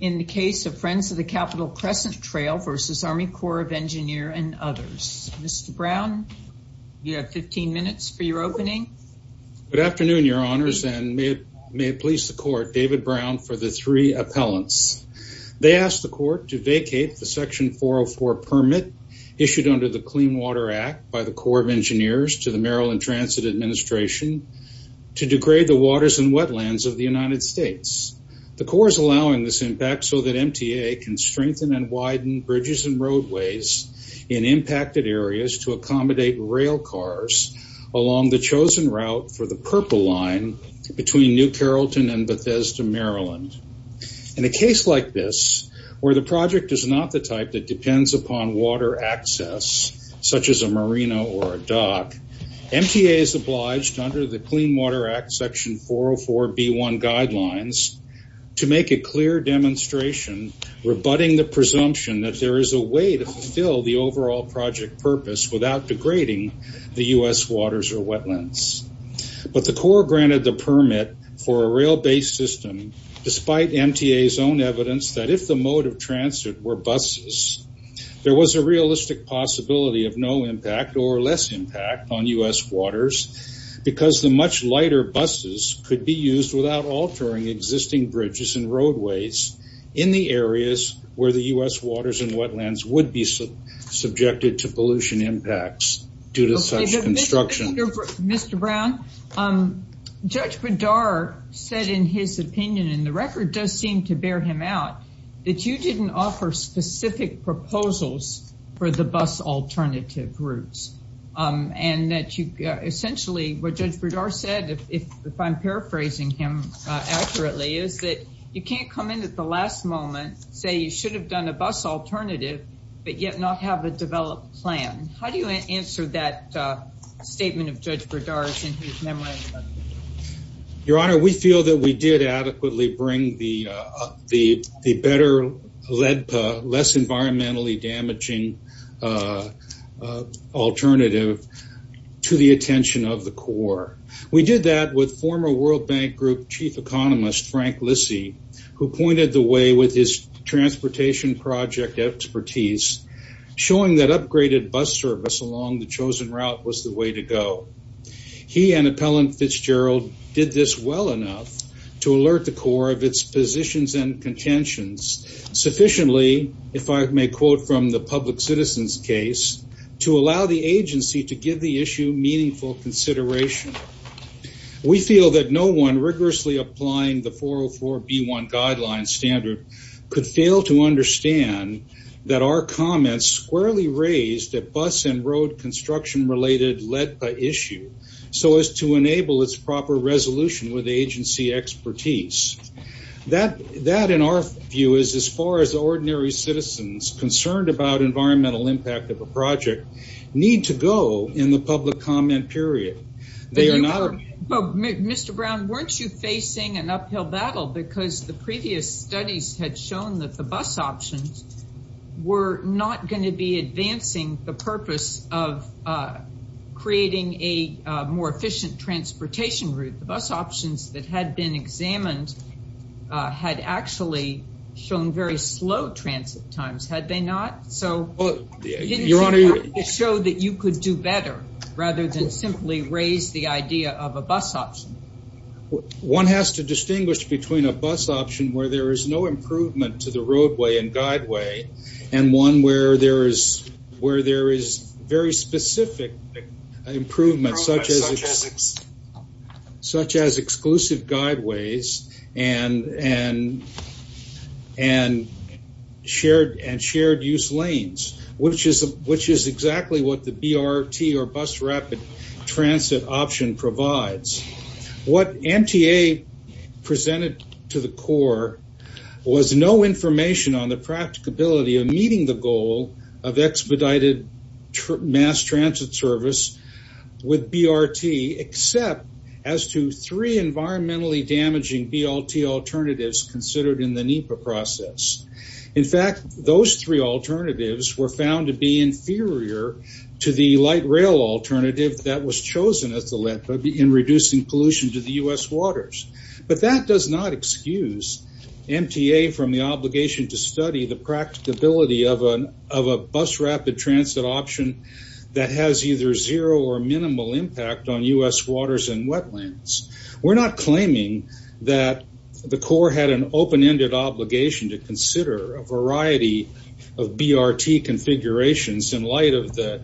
in the case of Friends of the Capital Crescent Trail v. Army Corps of Engineers and others. Mr. Brown, you have 15 minutes for your opening. Good afternoon, Your Honors, and may it please the Court, David Brown for the three appellants. They ask the Court to vacate the Section 404 permit issued under the Clean Water Act by the Corps of Engineers to the Maryland Transit Administration to degrade the waters and so that MTA can strengthen and widen bridges and roadways in impacted areas to accommodate rail cars along the chosen route for the Purple Line between New Carrollton and Bethesda, Maryland. In a case like this, where the project is not the type that depends upon water access, such as a marina or a dock, MTA is obliged under the Clean Water Act Section 404b1 guidelines to make a clear demonstration rebutting the presumption that there is a way to fulfill the overall project purpose without degrading the U.S. waters or wetlands. But the Corps granted the permit for a rail-based system despite MTA's own evidence that if the mode of transit were buses, there was a realistic possibility of no impact or less impact on U.S. bridges and roadways in the areas where the U.S. waters and wetlands would be subjected to pollution impacts due to such construction. Mr. Brown, Judge Bedard said in his opinion, and the record does seem to bear him out, that you didn't offer specific proposals for the bus alternative routes. And essentially, what Judge Bedard said, if I'm paraphrasing him accurately, is that you can't come in at the last moment, say you should have done a bus alternative, but yet not have a developed plan. How do you answer that statement of Judge Bedard's and his memorandum? Your Honor, we feel that we did adequately bring the better, less environmentally damaging alternative to the attention of the Corps. We did that with former World Bank Group Chief Economist Frank Lissy, who pointed the way with his transportation project expertise, showing that upgraded bus service along the chosen route was the way to go. He and Appellant Fitzgerald did this well enough to alert the Corps of its positions and contentions sufficiently, if I may quote from the public citizens case, to allow the agency to give the issue meaningful consideration. We feel that no one rigorously applying the 404b1 guideline standard could fail to understand that our comments squarely raised a bus and road construction related LEDPA issue, so as to enable its proper resolution with agency expertise. That, in our view, is as far as ordinary citizens concerned about environmental impact of a project need to go in the public comment period. Mr. Brown, weren't you facing an uphill battle because the previous studies had shown that the bus options were not going to be advancing the purpose of creating a more efficient transportation route? The bus options that had been examined had actually shown very slow transit times, had they not? So, didn't you have to show that you could do better, rather than simply raise the idea of a bus option? One has to distinguish between a bus option where there is no improvement to the roadway and guideway, and one where there is very specific improvement, such as exclusive guideways and shared-use lanes, which is exactly what the BRT or bus rapid transit option provides. What MTA presented to the Corps was no information on the practicability of meeting the goal of expedited mass transit service with BRT, except as to three environmentally damaging BRT alternatives considered in the NEPA process. In fact, those three alternatives were found to be inferior to the light rail alternative that was chosen in reducing pollution to the U.S. of a bus rapid transit option that has either zero or minimal impact on U.S. waters and wetlands. We are not claiming that the Corps had an open-ended obligation to consider a variety of BRT configurations in light of the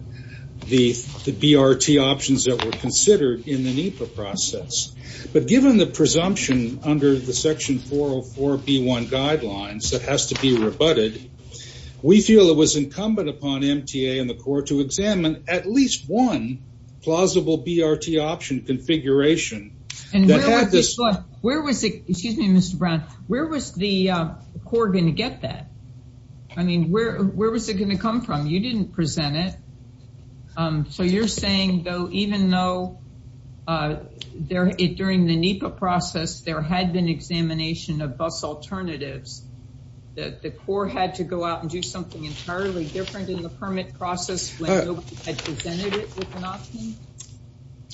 BRT options that were considered in the NEPA process. But given the presumption under the Section 404B1 guidelines that has to be rebutted, we feel it was incumbent upon MTA and the Corps to examine at least one plausible BRT option configuration. Where was the Corps going to get that? I mean, where was it going to come from? You did not There had been examination of bus alternatives. The Corps had to go out and do something entirely different in the permit process.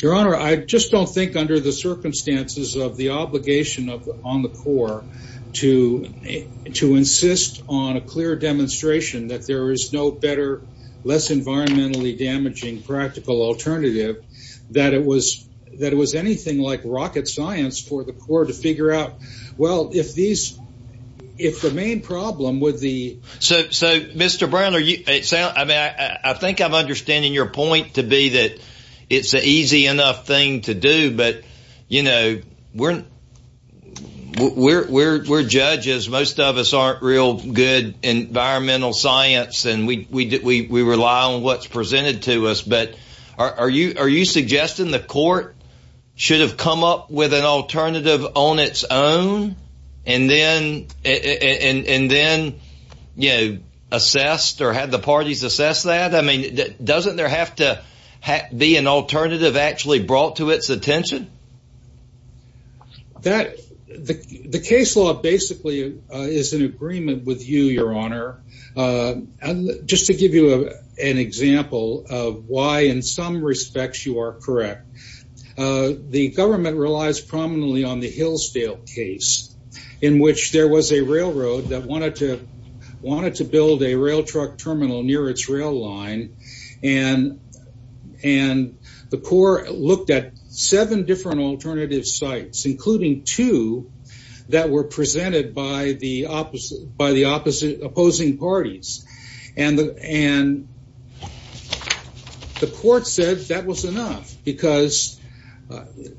Your Honor, I just do not think under the circumstances of the obligation on the Corps to insist on a clear demonstration that there is no better, less for the Corps to figure out, well, if the main problem with the Mr. Brown, I think I am understanding your point to be that it is an easy enough thing to do, but we are judges. Most of us are not real good in environmental science, and we rely on what is on its own and then assessed or had the parties assess that. I mean, doesn't there have to be an alternative actually brought to its attention? The case law basically is in agreement with you, your Honor. Just to give you an example of why in some respects you are correct, the government relies prominently on the Hillsdale case in which there was a railroad that wanted to build a rail truck terminal near its rail line, and the Corps looked at seven different alternative sites, including two that were presented by the opposing parties. And the Court said that was enough because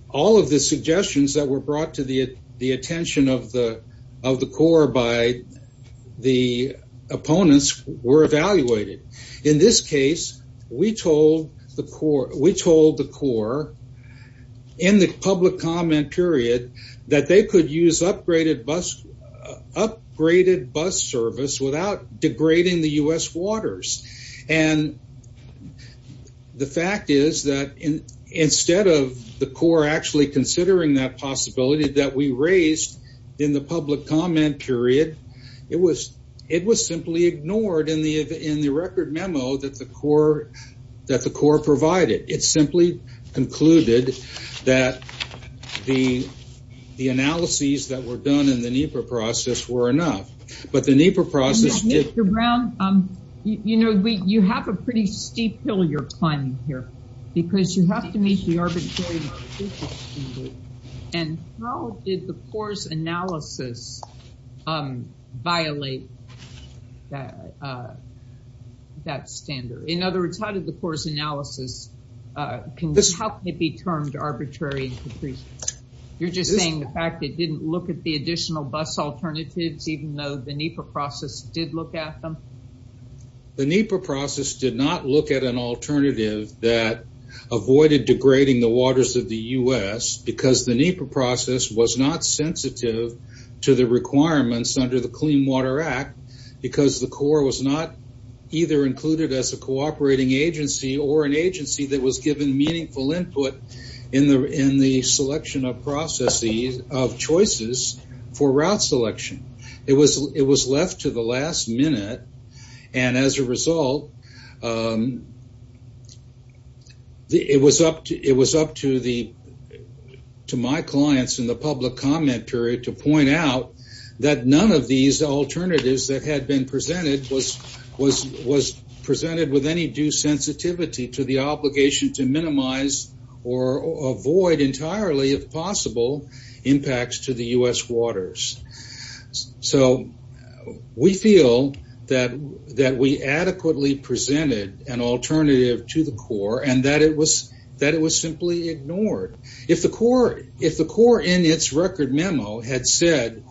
all of the suggestions that were brought to the attention of the Corps by the opponents were evaluated. In this case, we told the Corps in the public comment period that they could use upgraded bus service without degrading the U.S. waters. And the fact is that instead of the Corps actually considering that possibility that we raised in the public comment period, it was simply ignored in the record memo that the Corps provided. It simply concluded that the analyses that were done in the NEPA process were enough, but the NEPA process did... Mr. Brown, you know, you have a pretty steep hill you're climbing here because you have to meet the arbitrary marginal standard. And how did the Corps' analysis violate that standard? In other words, how did the Corps' analysis, how can it be termed arbitrary? You're just saying the fact it didn't look at the additional bus alternatives, even though the NEPA process did look at them? The NEPA process did not look at an alternative that avoided degrading the waters of the U.S. because the NEPA process was not sensitive to the requirements under the Clean Water Act because the Corps was not either included as a cooperating agency or an agency that was given meaningful input in the selection of processes of choices for route selection. It was left to the last minute, and as a result, it was up to my clients in the public comment period to point out that none of these alternatives that had been presented was presented with any due sensitivity to the obligation to minimize or avoid entirely, if possible, impacts to the U.S. waters. So we feel that we adequately presented an alternative to the Corps and that it was simply ignored. If the Corps in its record memo had said,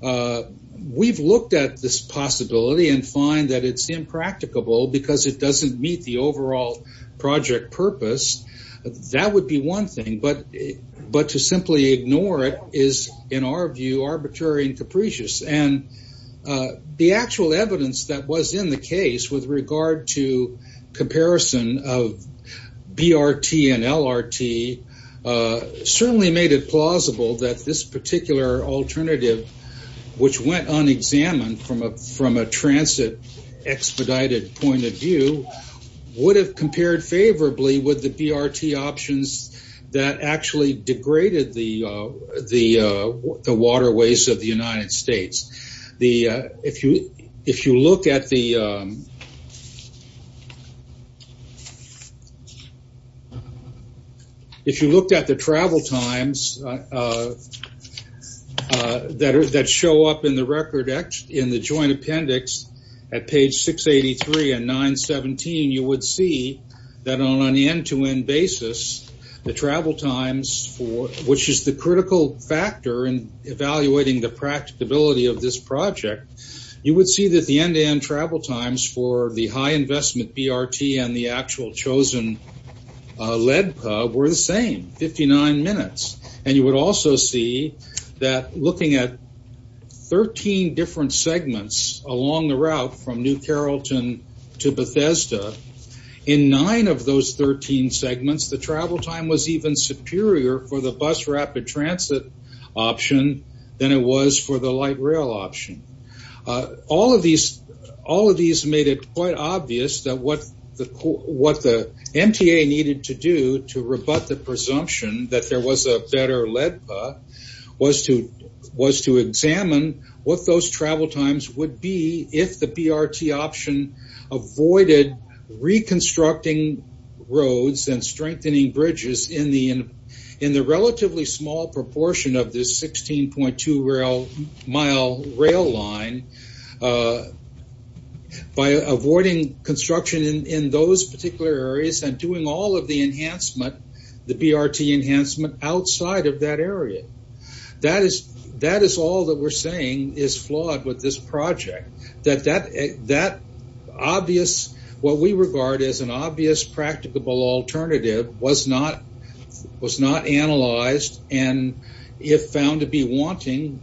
we've looked at this possibility and find that it's impracticable because it doesn't meet the overall project purpose, that would be one thing, but to simply ignore it is, in our view, arbitrary and capricious. The actual evidence that was in the case with regard to comparison of BRT and LRT certainly made it plausible that this particular alternative, which went unexamined from a transit expedited point of view, would have compared favorably with the BRT options that actually degraded the waterways of the United States. If you looked at the travel times that show up in the joint appendix at page 683 and 917, you would see that on an end-to-end basis, the travel times, which is the critical factor in evaluating the practicability of this project, you would see that the end-to-end travel times for the high investment BRT and the actual chosen lead were the same, 59 minutes. And you would also see that looking at 13 different segments along the route from New Carrollton to Bethesda, in nine of 13 segments, the travel time was even superior for the bus rapid transit option than it was for the light rail option. All of these made it quite obvious that what the MTA needed to do to rebut the presumption that there was a better LEDPA was to examine what those travel times would be if the roads and strengthening bridges in the relatively small proportion of this 16.2 mile rail line, by avoiding construction in those particular areas and doing all of the enhancement, the BRT enhancement outside of that area. That is all that we're saying is flawed with this project. That obvious, what we regard as an obvious practicable alternative was not analyzed and if found to be wanting,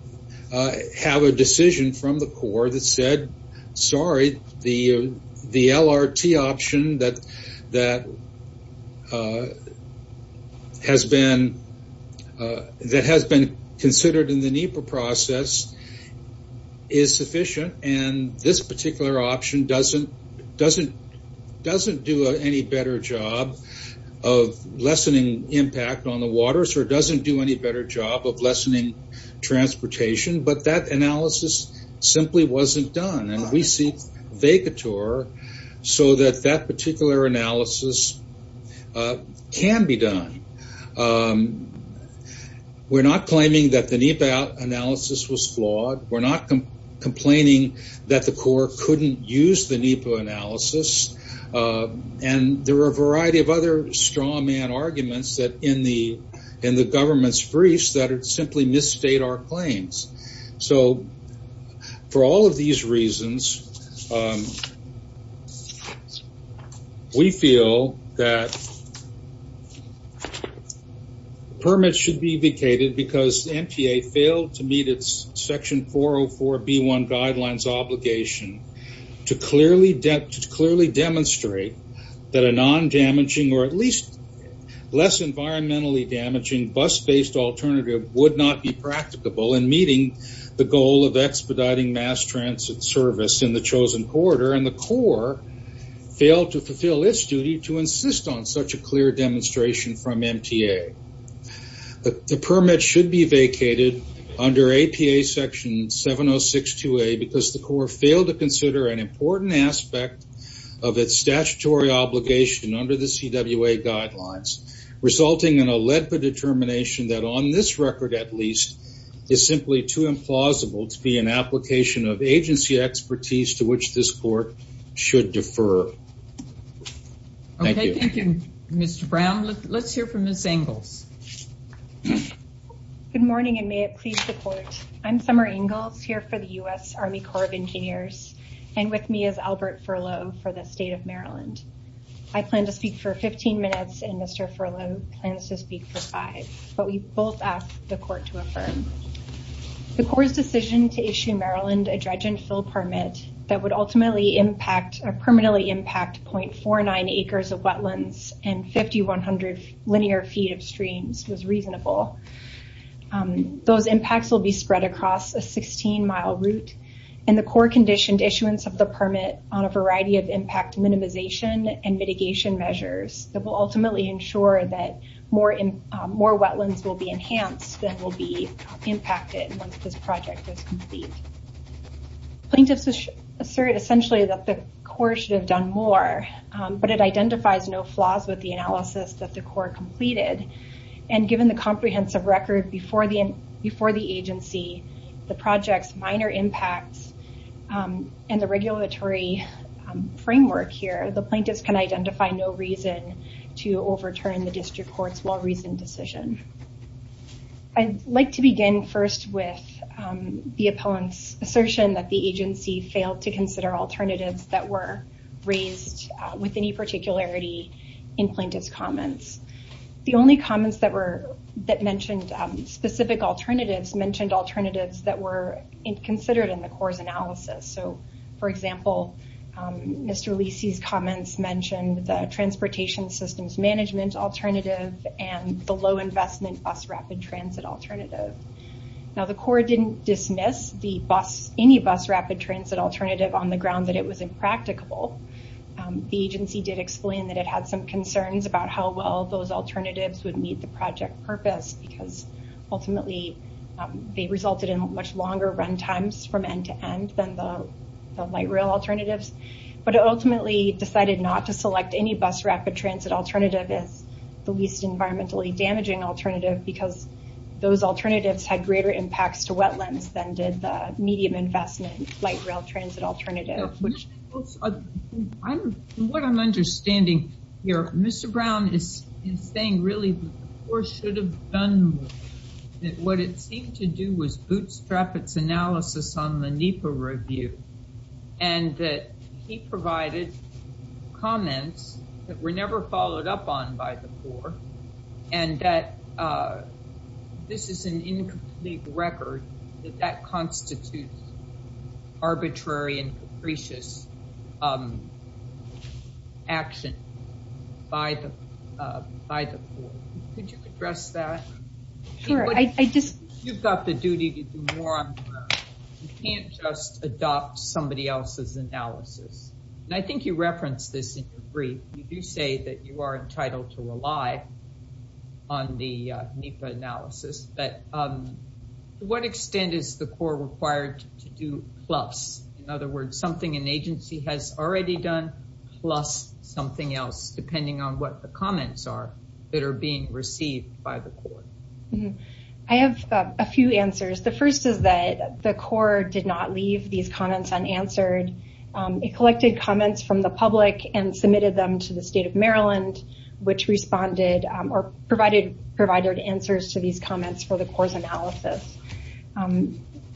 have a decision from the core that said, sorry, the LRT option that has been considered in the NEPA process is sufficient and this particular option doesn't do any better job of lessening impact on the waters or doesn't do any better job of lessening transportation, but that analysis simply wasn't done and we see Vegator so that particular analysis can be done. We're not claiming that the NEPA analysis was flawed. We're not complaining that the core couldn't use the NEPA analysis and there were a variety of other straw man arguments in the government's briefs that simply misstate our claims. So, for all of these reasons, we feel that permits should be vacated because NPA failed to meet its section 404B1 guidelines obligation to clearly demonstrate that a non-damaging or at least less environmentally damaging bus-based alternative would not be practicable in meeting the goal of expediting mass transit service in the chosen corridor and the core failed to fulfill its duty to insist on such a clear demonstration from MTA. The permit should be vacated under APA section 7062A because the core failed to consider an important aspect of its statutory obligation under the CWA guidelines resulting in a LEDPA determination that on this record at least is simply too implausible to be an application of agency expertise to which this court should defer. Okay, thank you Mr. Brown. Let's hear from Ms. Ingalls. Good morning and may it please the court. I'm Summer Ingalls here for the U.S. Army Corps of Medics and Mr. Furlow plans to speak for five, but we both ask the court to affirm. The Corps' decision to issue Maryland a dredge and fill permit that would ultimately impact or permanently impact 0.49 acres of wetlands and 5,100 linear feet of streams was reasonable. Those impacts will be spread across a 16-mile route and the Corps conditioned issuance of the permit will ultimately ensure that more wetlands will be enhanced than will be impacted once this project is complete. Plaintiffs assert essentially that the Corps should have done more, but it identifies no flaws with the analysis that the Corps completed and given the comprehensive record before the agency, the project's minor impacts and the regulatory framework here, the plaintiffs can identify no reason to overturn the district court's well-reasoned decision. I'd like to begin first with the opponent's assertion that the agency failed to consider alternatives that were raised with any particularity in plaintiff's comments. The only comments that mentioned specific alternatives mentioned alternatives that were considered in the Corps' analysis. So for example, Mr. Lisi's comments mentioned the transportation systems management alternative and the low investment bus rapid transit alternative. Now the Corps didn't dismiss any bus rapid transit alternative on the ground that it was impracticable. The agency did explain that it had some concerns about how well those alternatives would meet the project purpose because ultimately they resulted in much longer run times from end to end than the light rail alternatives, but it ultimately decided not to select any bus rapid transit alternative as the least environmentally damaging alternative because those alternatives had greater impacts to wetlands than did the medium investment light rail transit alternative. What I'm understanding here, Mr. Brown is saying really the Corps should have done more. What it seemed to do was bootstrap its analysis on the NEPA review and that he provided comments that were never followed up on by the Corps and that this is an incomplete record that that constitutes arbitrary and capricious action by the Corps. Could you address that? Sure. I just... You've got the duty to do more on the ground. You can't just adopt somebody else's analysis. And I think you referenced this in your brief. You do say that you are entitled to rely on the NEPA analysis, but to what extent is the Corps required to do plus? In other words, something an agency has already done plus something else, depending on what the comments are that are being received by the Corps? I have a few answers. The first is that the Corps did not leave these comments unanswered. It collected comments from the public and submitted them to the state of Maryland, which responded or provided answers to these comments for the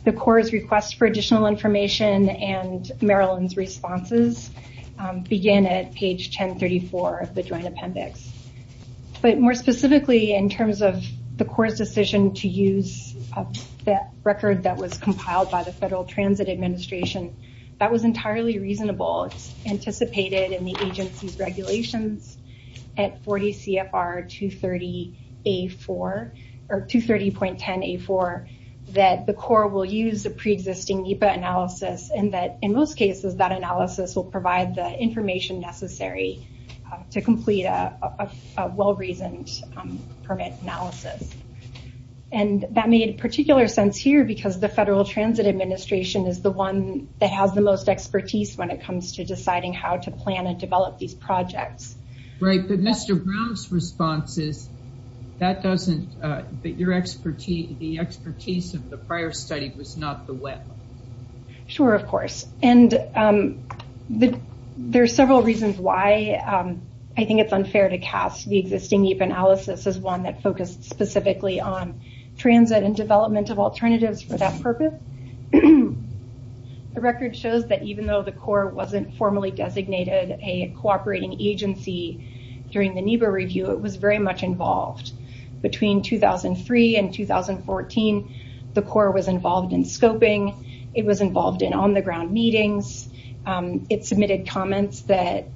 request for additional information and Maryland's responses began at page 1034 of the Joint Appendix. More specifically, in terms of the Corps' decision to use that record that was compiled by the Federal Transit Administration, that was entirely reasonable. It's anticipated in the pre-existing NEPA analysis and that in most cases that analysis will provide the information necessary to complete a well-reasoned permit analysis. And that made particular sense here because the Federal Transit Administration is the one that has the most expertise when it comes to deciding how to plan and develop these projects. Right. But Mr. Brown's response is that doesn't... The expertise of the prior study was not the web. Sure, of course. And there are several reasons why I think it's unfair to cast the existing NEPA analysis as one that focused specifically on transit and development of alternatives for that purpose. The record shows that even though the Corps wasn't formally designated a cooperating agency during the NEPA review, it was very much involved. Between 2003 and 2014, the Corps was involved in scoping. It was involved in on-the-ground meetings. It submitted comments that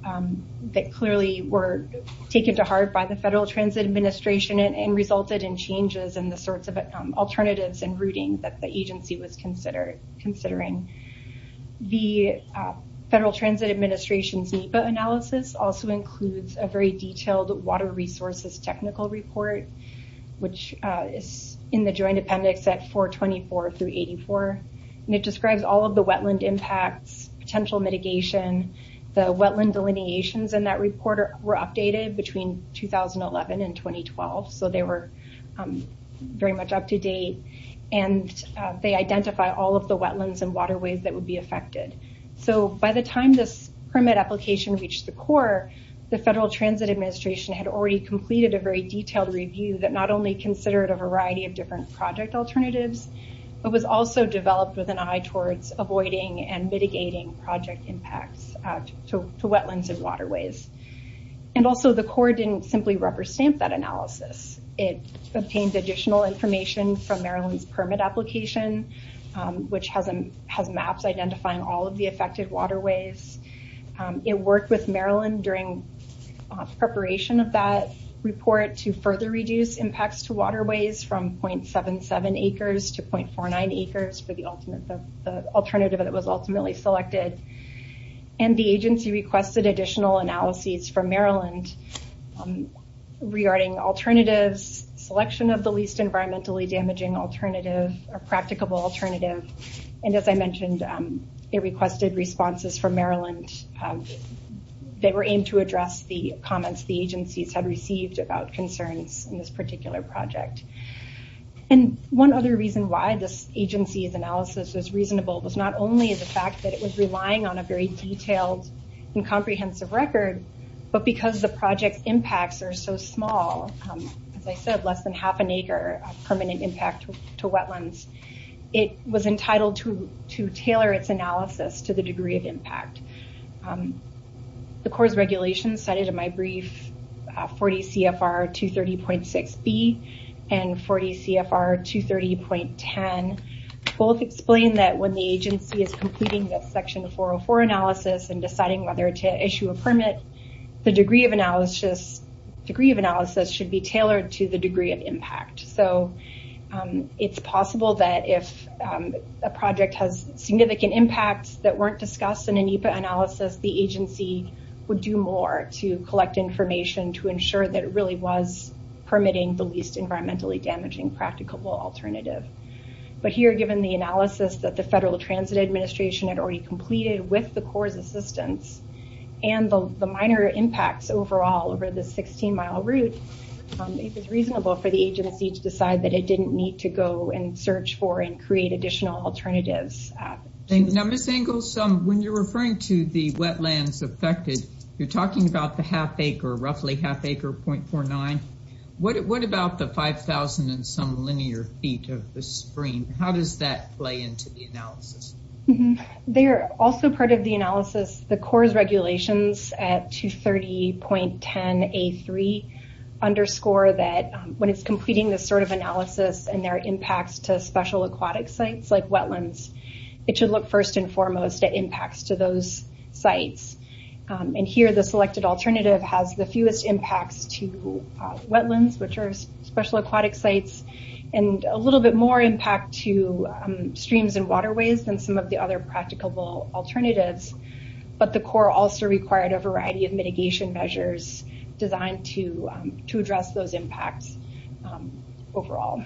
clearly were taken to heart by the Federal Transit Administration and resulted in changes in the sorts of alternatives and routing that the agency was considering. The Federal Transit Administration's NEPA analysis also includes a very detailed water resources technical report, which is in the joint appendix at 424 through 84. And it describes all of the wetland impacts, potential mitigation. The wetland delineations in that report were updated between 2011 and 2012, so they were very much up to date. And they identify all of the wetlands and waterways that would be affected. By the time this permit application reached the Corps, the Federal Transit Administration had already completed a very detailed review that not only considered a variety of different project alternatives, but was also developed with an eye towards avoiding and mitigating project impacts to wetlands and waterways. And also, the Corps didn't simply rubber stamp that analysis. It obtained additional information from Maryland's permit application, which has maps identifying all of the affected waterways. It worked with Maryland during preparation of that report to further reduce impacts to waterways from 0.77 acres to 0.49 acres for the alternative that was ultimately selected. And the agency requested additional analyses from Maryland regarding alternatives, selection of the least environmentally damaging alternative or practicable alternative. And as I mentioned, it requested responses from Maryland that were aimed to address the comments the agencies had received about concerns in this particular project. And one other reason why this agency's on a very detailed and comprehensive record, but because the project's impacts are so small, as I said, less than half an acre of permanent impact to wetlands, it was entitled to tailor its analysis to the degree of impact. The Corps' regulations cited in my brief, 40 CFR 230.6B and 40 CFR 230.10, both explain that when the agency is completing the section 404 analysis and deciding whether to issue a permit, the degree of analysis should be tailored to the degree of impact. So it's possible that if a project has significant impacts that weren't to ensure that it really was permitting the least environmentally damaging practicable alternative. But here, given the analysis that the Federal Transit Administration had already completed with the Corps' assistance and the minor impacts overall over the 16-mile route, it was reasonable for the agency to decide that it didn't need to go and search for and create additional alternatives. Now, Ms. Engels, when you're referring to the wetlands affected, you're talking about the half acre, roughly half acre, 0.49. What about the 5,000 and some linear feet of the stream? How does that play into the analysis? They are also part of the analysis. The Corps' regulations at 230.10A3 underscore that when it's completing this sort of analysis and there are impacts to special aquatic sites like wetlands, it should look first and foremost at impacts to those sites. And here, the selected alternative has the fewest impacts to wetlands, which are special aquatic sites, and a little bit more impact to streams and waterways than some of the other practicable alternatives. But the Corps also required a variety of mitigation measures designed to address those impacts overall.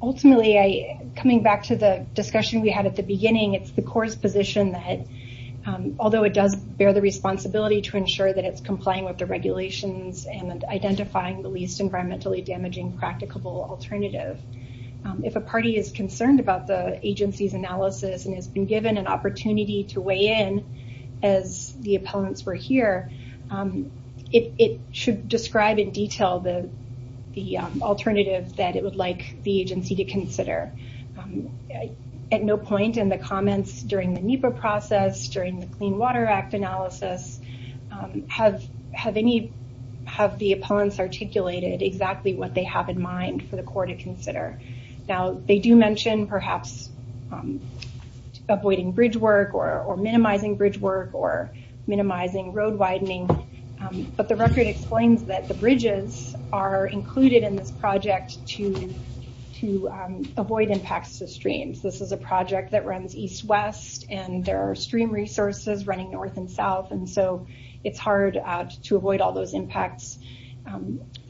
Ultimately, coming back to the discussion we had at the beginning, it's the Corps' position that, although it does bear the responsibility to ensure that it's complying with the regulations and identifying the least environmentally damaging practicable alternative, if a party is concerned about the agency's analysis and has been given an opportunity to weigh in as the appellants were here, it should describe in detail the alternative that it would like the agency to consider. At no point in the comments during the NEPA process, during the Clean Water Act analysis, have the appellants articulated exactly what they have in mind for the Corps to consider? Now, they do mention, perhaps, avoiding bridge work or minimizing bridge work or minimizing road widening, but the record explains that the bridges are included in this project to avoid impacts to streams. This is a project that runs east-west, and there are stream resources running north and south, and so it's hard to avoid all those impacts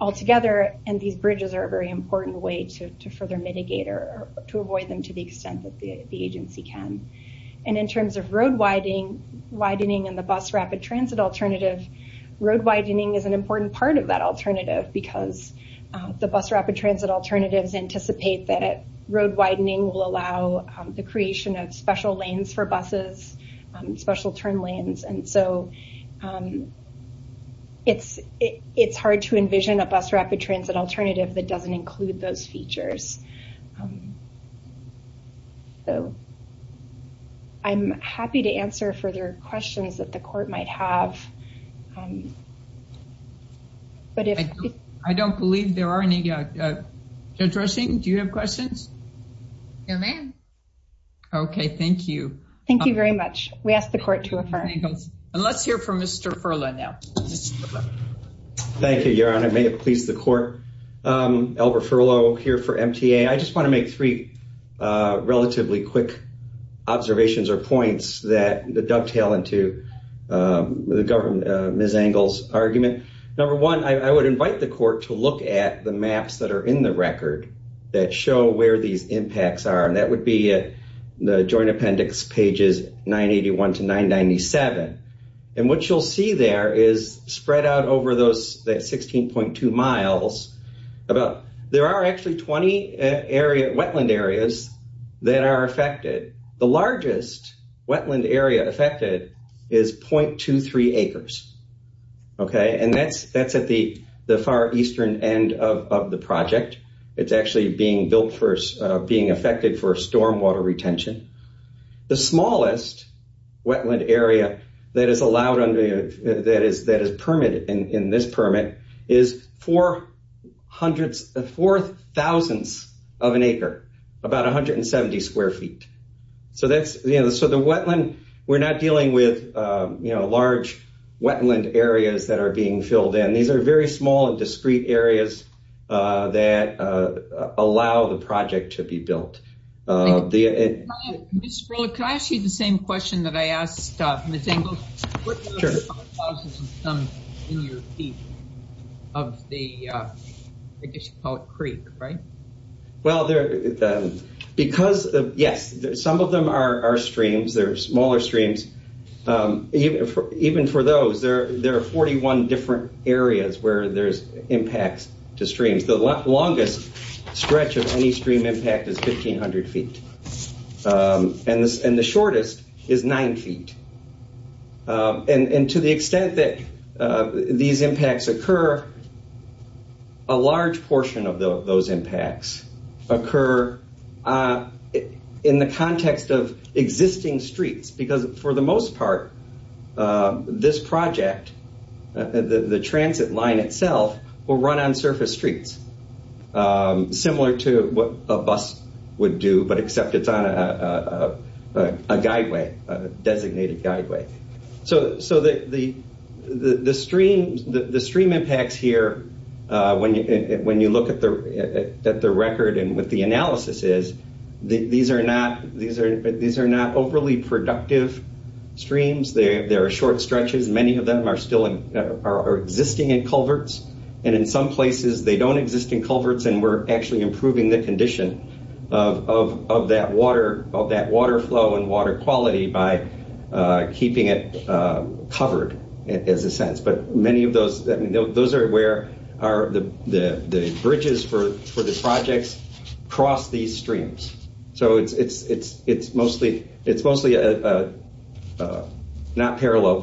altogether. These bridges are a very important way to further mitigate or to avoid them to the extent that the agency can. In terms of road widening and the bus rapid transit alternative, road widening is an important part of that alternative because the bus rapid transit alternatives anticipate that road widening will allow the creation of special lanes for buses, special turn lanes. It's hard to envision a bus rapid transit alternative that doesn't include those features. I'm happy to answer further questions that the court might have. I don't believe there are any. Judge Rushing, do you have questions? Your man. Okay, thank you. Thank you very much. We ask the court to affirm. And let's hear from Mr. Furlow now. Thank you, Your Honor. May it please the court. Albert Furlow here for MTA. I just want to make three relatively quick observations or points that dovetail into Ms. Angle's argument. Number one, I would invite the court to look at the maps that are in the record that show where these impacts are. And that would be the Joint Appendix pages 981 to 997. And what you'll see there is spread out over those 16.2 miles. There are actually 20 wetland areas that are affected. The largest wetland area affected is 0.23 acres. Okay, and that's at the far eastern end of the project. It's actually being affected for storm water retention. The smallest wetland area that is permitted in this permit is four thousandths of an acre, about 170 square feet. So the wetland, we're not dealing with large wetland areas that are being filled in. These are very small and discreet areas that allow the project to be built. Ms. Angle, could I ask you the same question that I asked Ms. Angle? What are the waterfalls in your view of the, I guess you call it creek, right? Well, because, yes, some of them are streams. They're smaller streams. Even for those, there are 41 different areas where there's impacts to streams. The longest stretch of any stream impact is 1,500 feet. And the shortest is nine feet. And to the extent that these impacts occur, a large portion of those impacts occur in the context of existing streets. Because for the most part, this project, the transit line itself, will run on surface streets, similar to what a bus would do, but except it's on a guideway, a designated guideway. So the stream impacts here, when you look at the record and what the analysis is, these are not overly productive streams. They are short stretches. Many of them are still existing in culverts. And in some places, they don't exist in culverts and we're actually improving the condition of that water flow and water quality by keeping it covered, in a sense. But many of those, those are where the bridges for the projects cross these streams. So it's mostly, not parallel,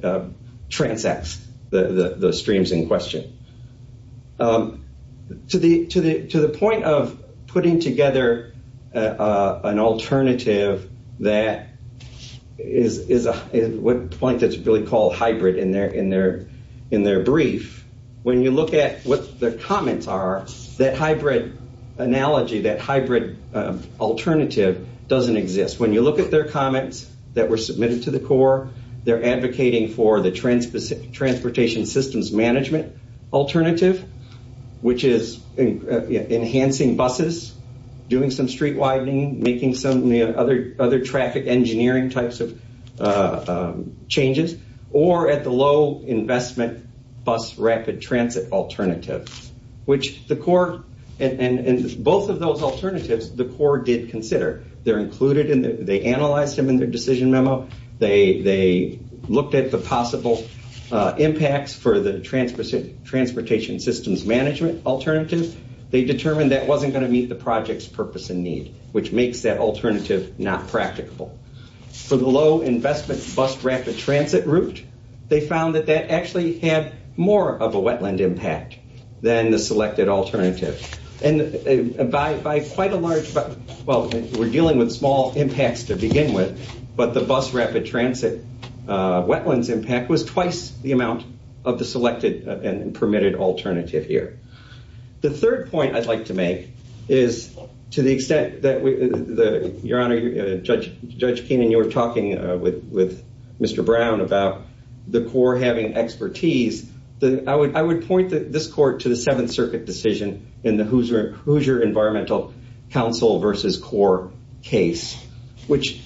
but transects the streams in question. To the point of putting together an alternative that is a point that's really called hybrid in their brief, when you look at what the comments are, that hybrid analogy, that hybrid alternative doesn't exist. When you look at their comments that were submitted to the Corps, they're advocating for the transportation systems management alternative, which is enhancing buses, doing some street widening, making some other traffic engineering types of changes, or at the low investment bus rapid transit alternative, which the Corps, and both of those alternatives, the Corps did consider. They're included, they analyzed them in their decision memo. They looked at the possible impacts for the transportation systems management alternative. They determined that wasn't going to meet the project's purpose and need, which makes that alternative not practicable. For the low investment bus rapid transit route, they found that that actually had more of a wetland impact than the impacts to begin with, but the bus rapid transit wetlands impact was twice the amount of the selected and permitted alternative here. The third point I'd like to make is to the extent that, Your Honor, Judge Keenan, you were talking with Mr. Brown about the Corps having expertise. I would point this court to the Seventh Circuit decision in the Hoosier Environmental Council versus Corps case, which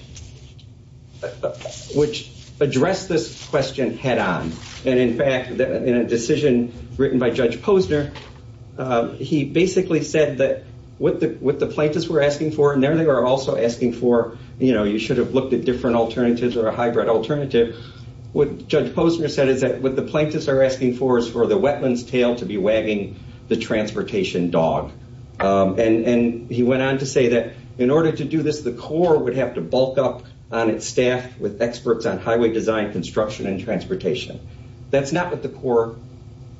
addressed this question head on. In fact, in a decision written by Judge Posner, he basically said that what the plaintiffs were asking for, and there they were also asking for, you should have looked at different alternatives or a hybrid alternative. What Judge Posner said is that what the plaintiffs are asking for is for the wetlands tail to be In order to do this, the Corps would have to bulk up on its staff with experts on highway design, construction, and transportation. That's not what the Corps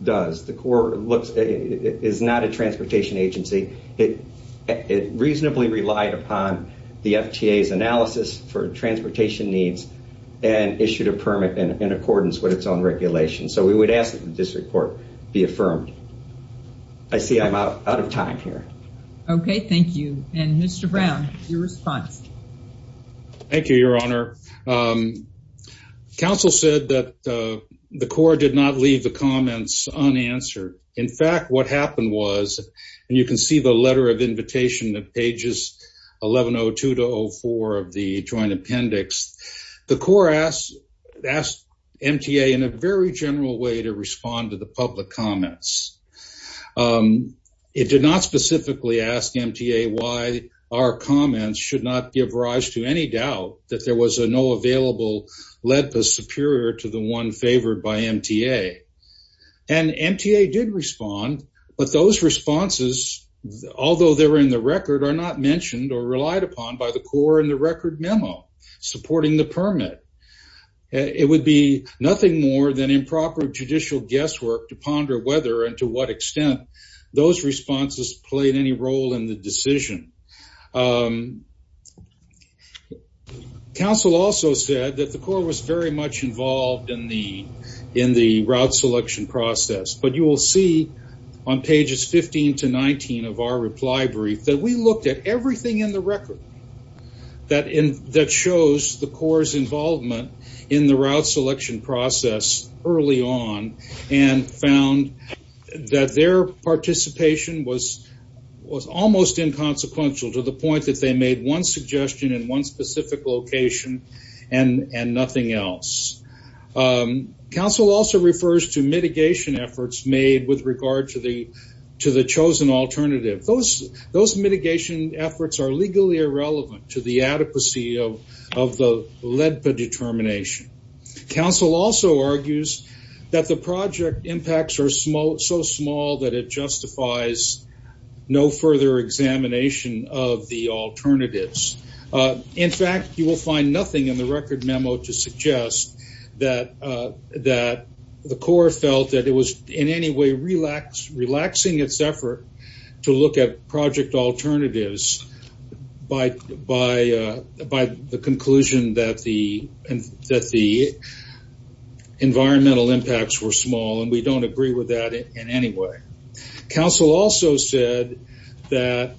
does. The Corps is not a transportation agency. It reasonably relied upon the FTA's analysis for transportation needs and issued a permit in accordance with its own regulations. So we would ask that this report be affirmed. I see I'm out of time here. Okay, thank you. And Mr. Brown, your response. Thank you, Your Honor. Counsel said that the Corps did not leave the comments unanswered. In fact, what happened was, and you can see the letter of invitation at pages 1102-04 of the joint appendix, the Corps asked MTA in a very general way to respond to the public comments. It did not specifically ask MTA why our comments should not give rise to any doubt that there was a no available LEDPA superior to the one favored by MTA. And MTA did respond, but those responses, although they were in the record, are not mentioned or relied upon by the Corps in the record memo supporting the permit. It would be nothing more than improper judicial guesswork to ponder whether and to what extent those responses played any role in the decision. Counsel also said that the Corps was very much involved in the route selection process, but you will see on pages 15-19 of our reply brief that we looked at everything in the record that shows the Corps' involvement in the route selection process early on and found that their participation was almost inconsequential to the point that they made one suggestion in one specific location and nothing else. Counsel also refers to mitigation efforts made with regard to the chosen alternative. Those mitigation efforts are legally irrelevant to the adequacy of the LEDPA determination. Counsel also argues that the project impacts are so small that it justifies no further examination of the alternatives. In fact, you will find nothing in the record memo to suggest that the Corps felt that it was in any way relaxing its effort to look at project alternatives by the conclusion that the environmental impacts were small, and we don't agree with that in any way. Counsel also said that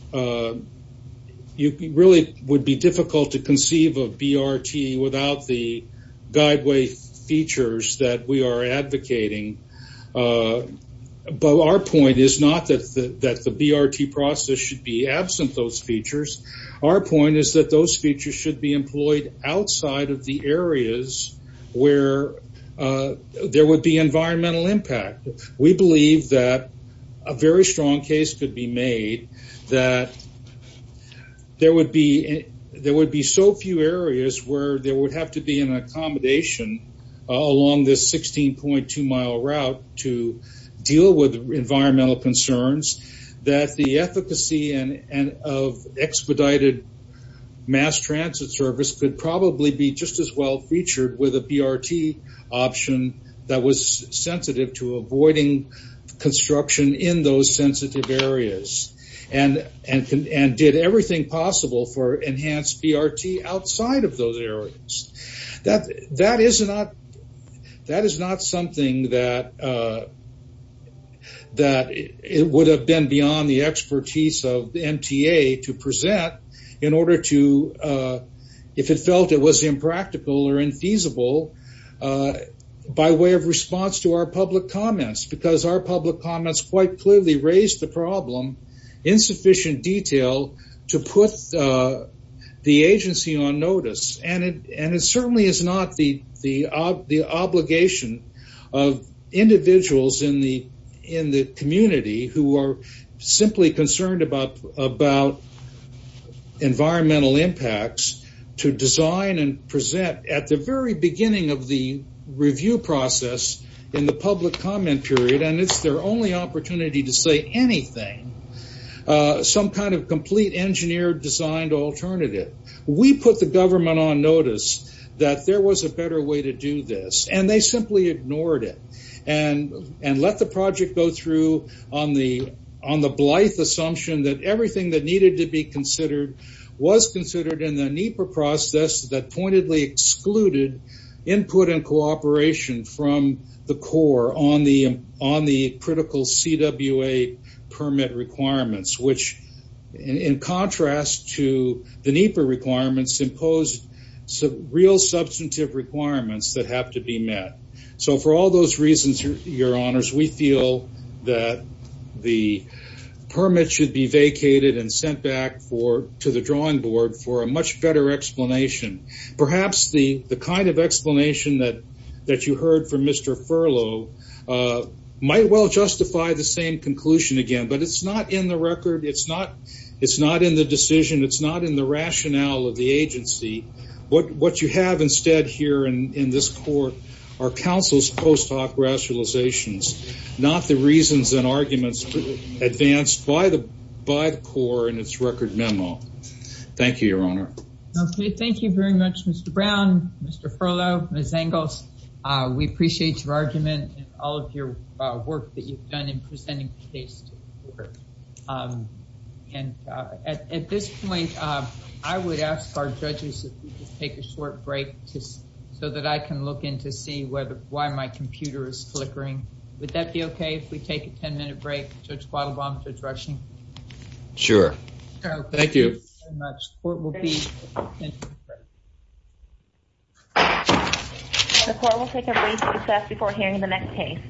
it really would be difficult to conceive of BRT without the guideway features that we are advocating, but our point is not that the BRT process should be absent those features. Our point is that those features should be employed outside of the areas where there would be environmental impact. We believe that a very where there would have to be an accommodation along this 16.2 mile route to deal with environmental concerns that the efficacy of expedited mass transit service could probably be just as well featured with a BRT option that was sensitive to avoiding construction in those areas. That is not something that would have been beyond the expertise of the MTA to present in order to if it felt it was impractical or infeasible by way of response to our public comments because our public comments quite clearly raised the problem in sufficient detail to put the agency on notice. It certainly is not the obligation of individuals in the community who are simply concerned about environmental impacts to design and present at the very beginning of the review process in the public comment period, and it's their only opportunity to say anything. Some kind of complete engineer designed alternative. We put the government on notice that there was a better way to do this, and they simply ignored it and let the project go through on the blithe assumption that everything that needed to be considered was considered in the NEPA process that pointedly excluded input and cooperation from the core on the critical CWA permit requirements, which in contrast to the NEPA requirements, imposed real substantive requirements that have to be met. For all those reasons, your honors, we feel that the permit should be vacated and sent back to the drawing board for a much better explanation. Perhaps the kind of explanation that you heard from Mr. Furlow might well justify the same conclusion again, but it's not in the record. It's not in the decision. It's not in the rationale of the agency. What you have instead here in this court are counsel's post hoc rationalizations, not the reasons and arguments advanced by the core in its record memo. Thank you, your honor. Okay. Thank you very much, Mr. Brown, Mr. Furlow, Ms. Engels. We appreciate your argument and all of your work that you've done in presenting the case to the court. And at this point, I would ask our judges to take a short break just so that I can look in to see why my computer is flickering. Would that be okay if we take a 10 minute break, Judge Quattlebaum, Judge Rauschen? Sure. Thank you. The court will take a brief recess before hearing the next case.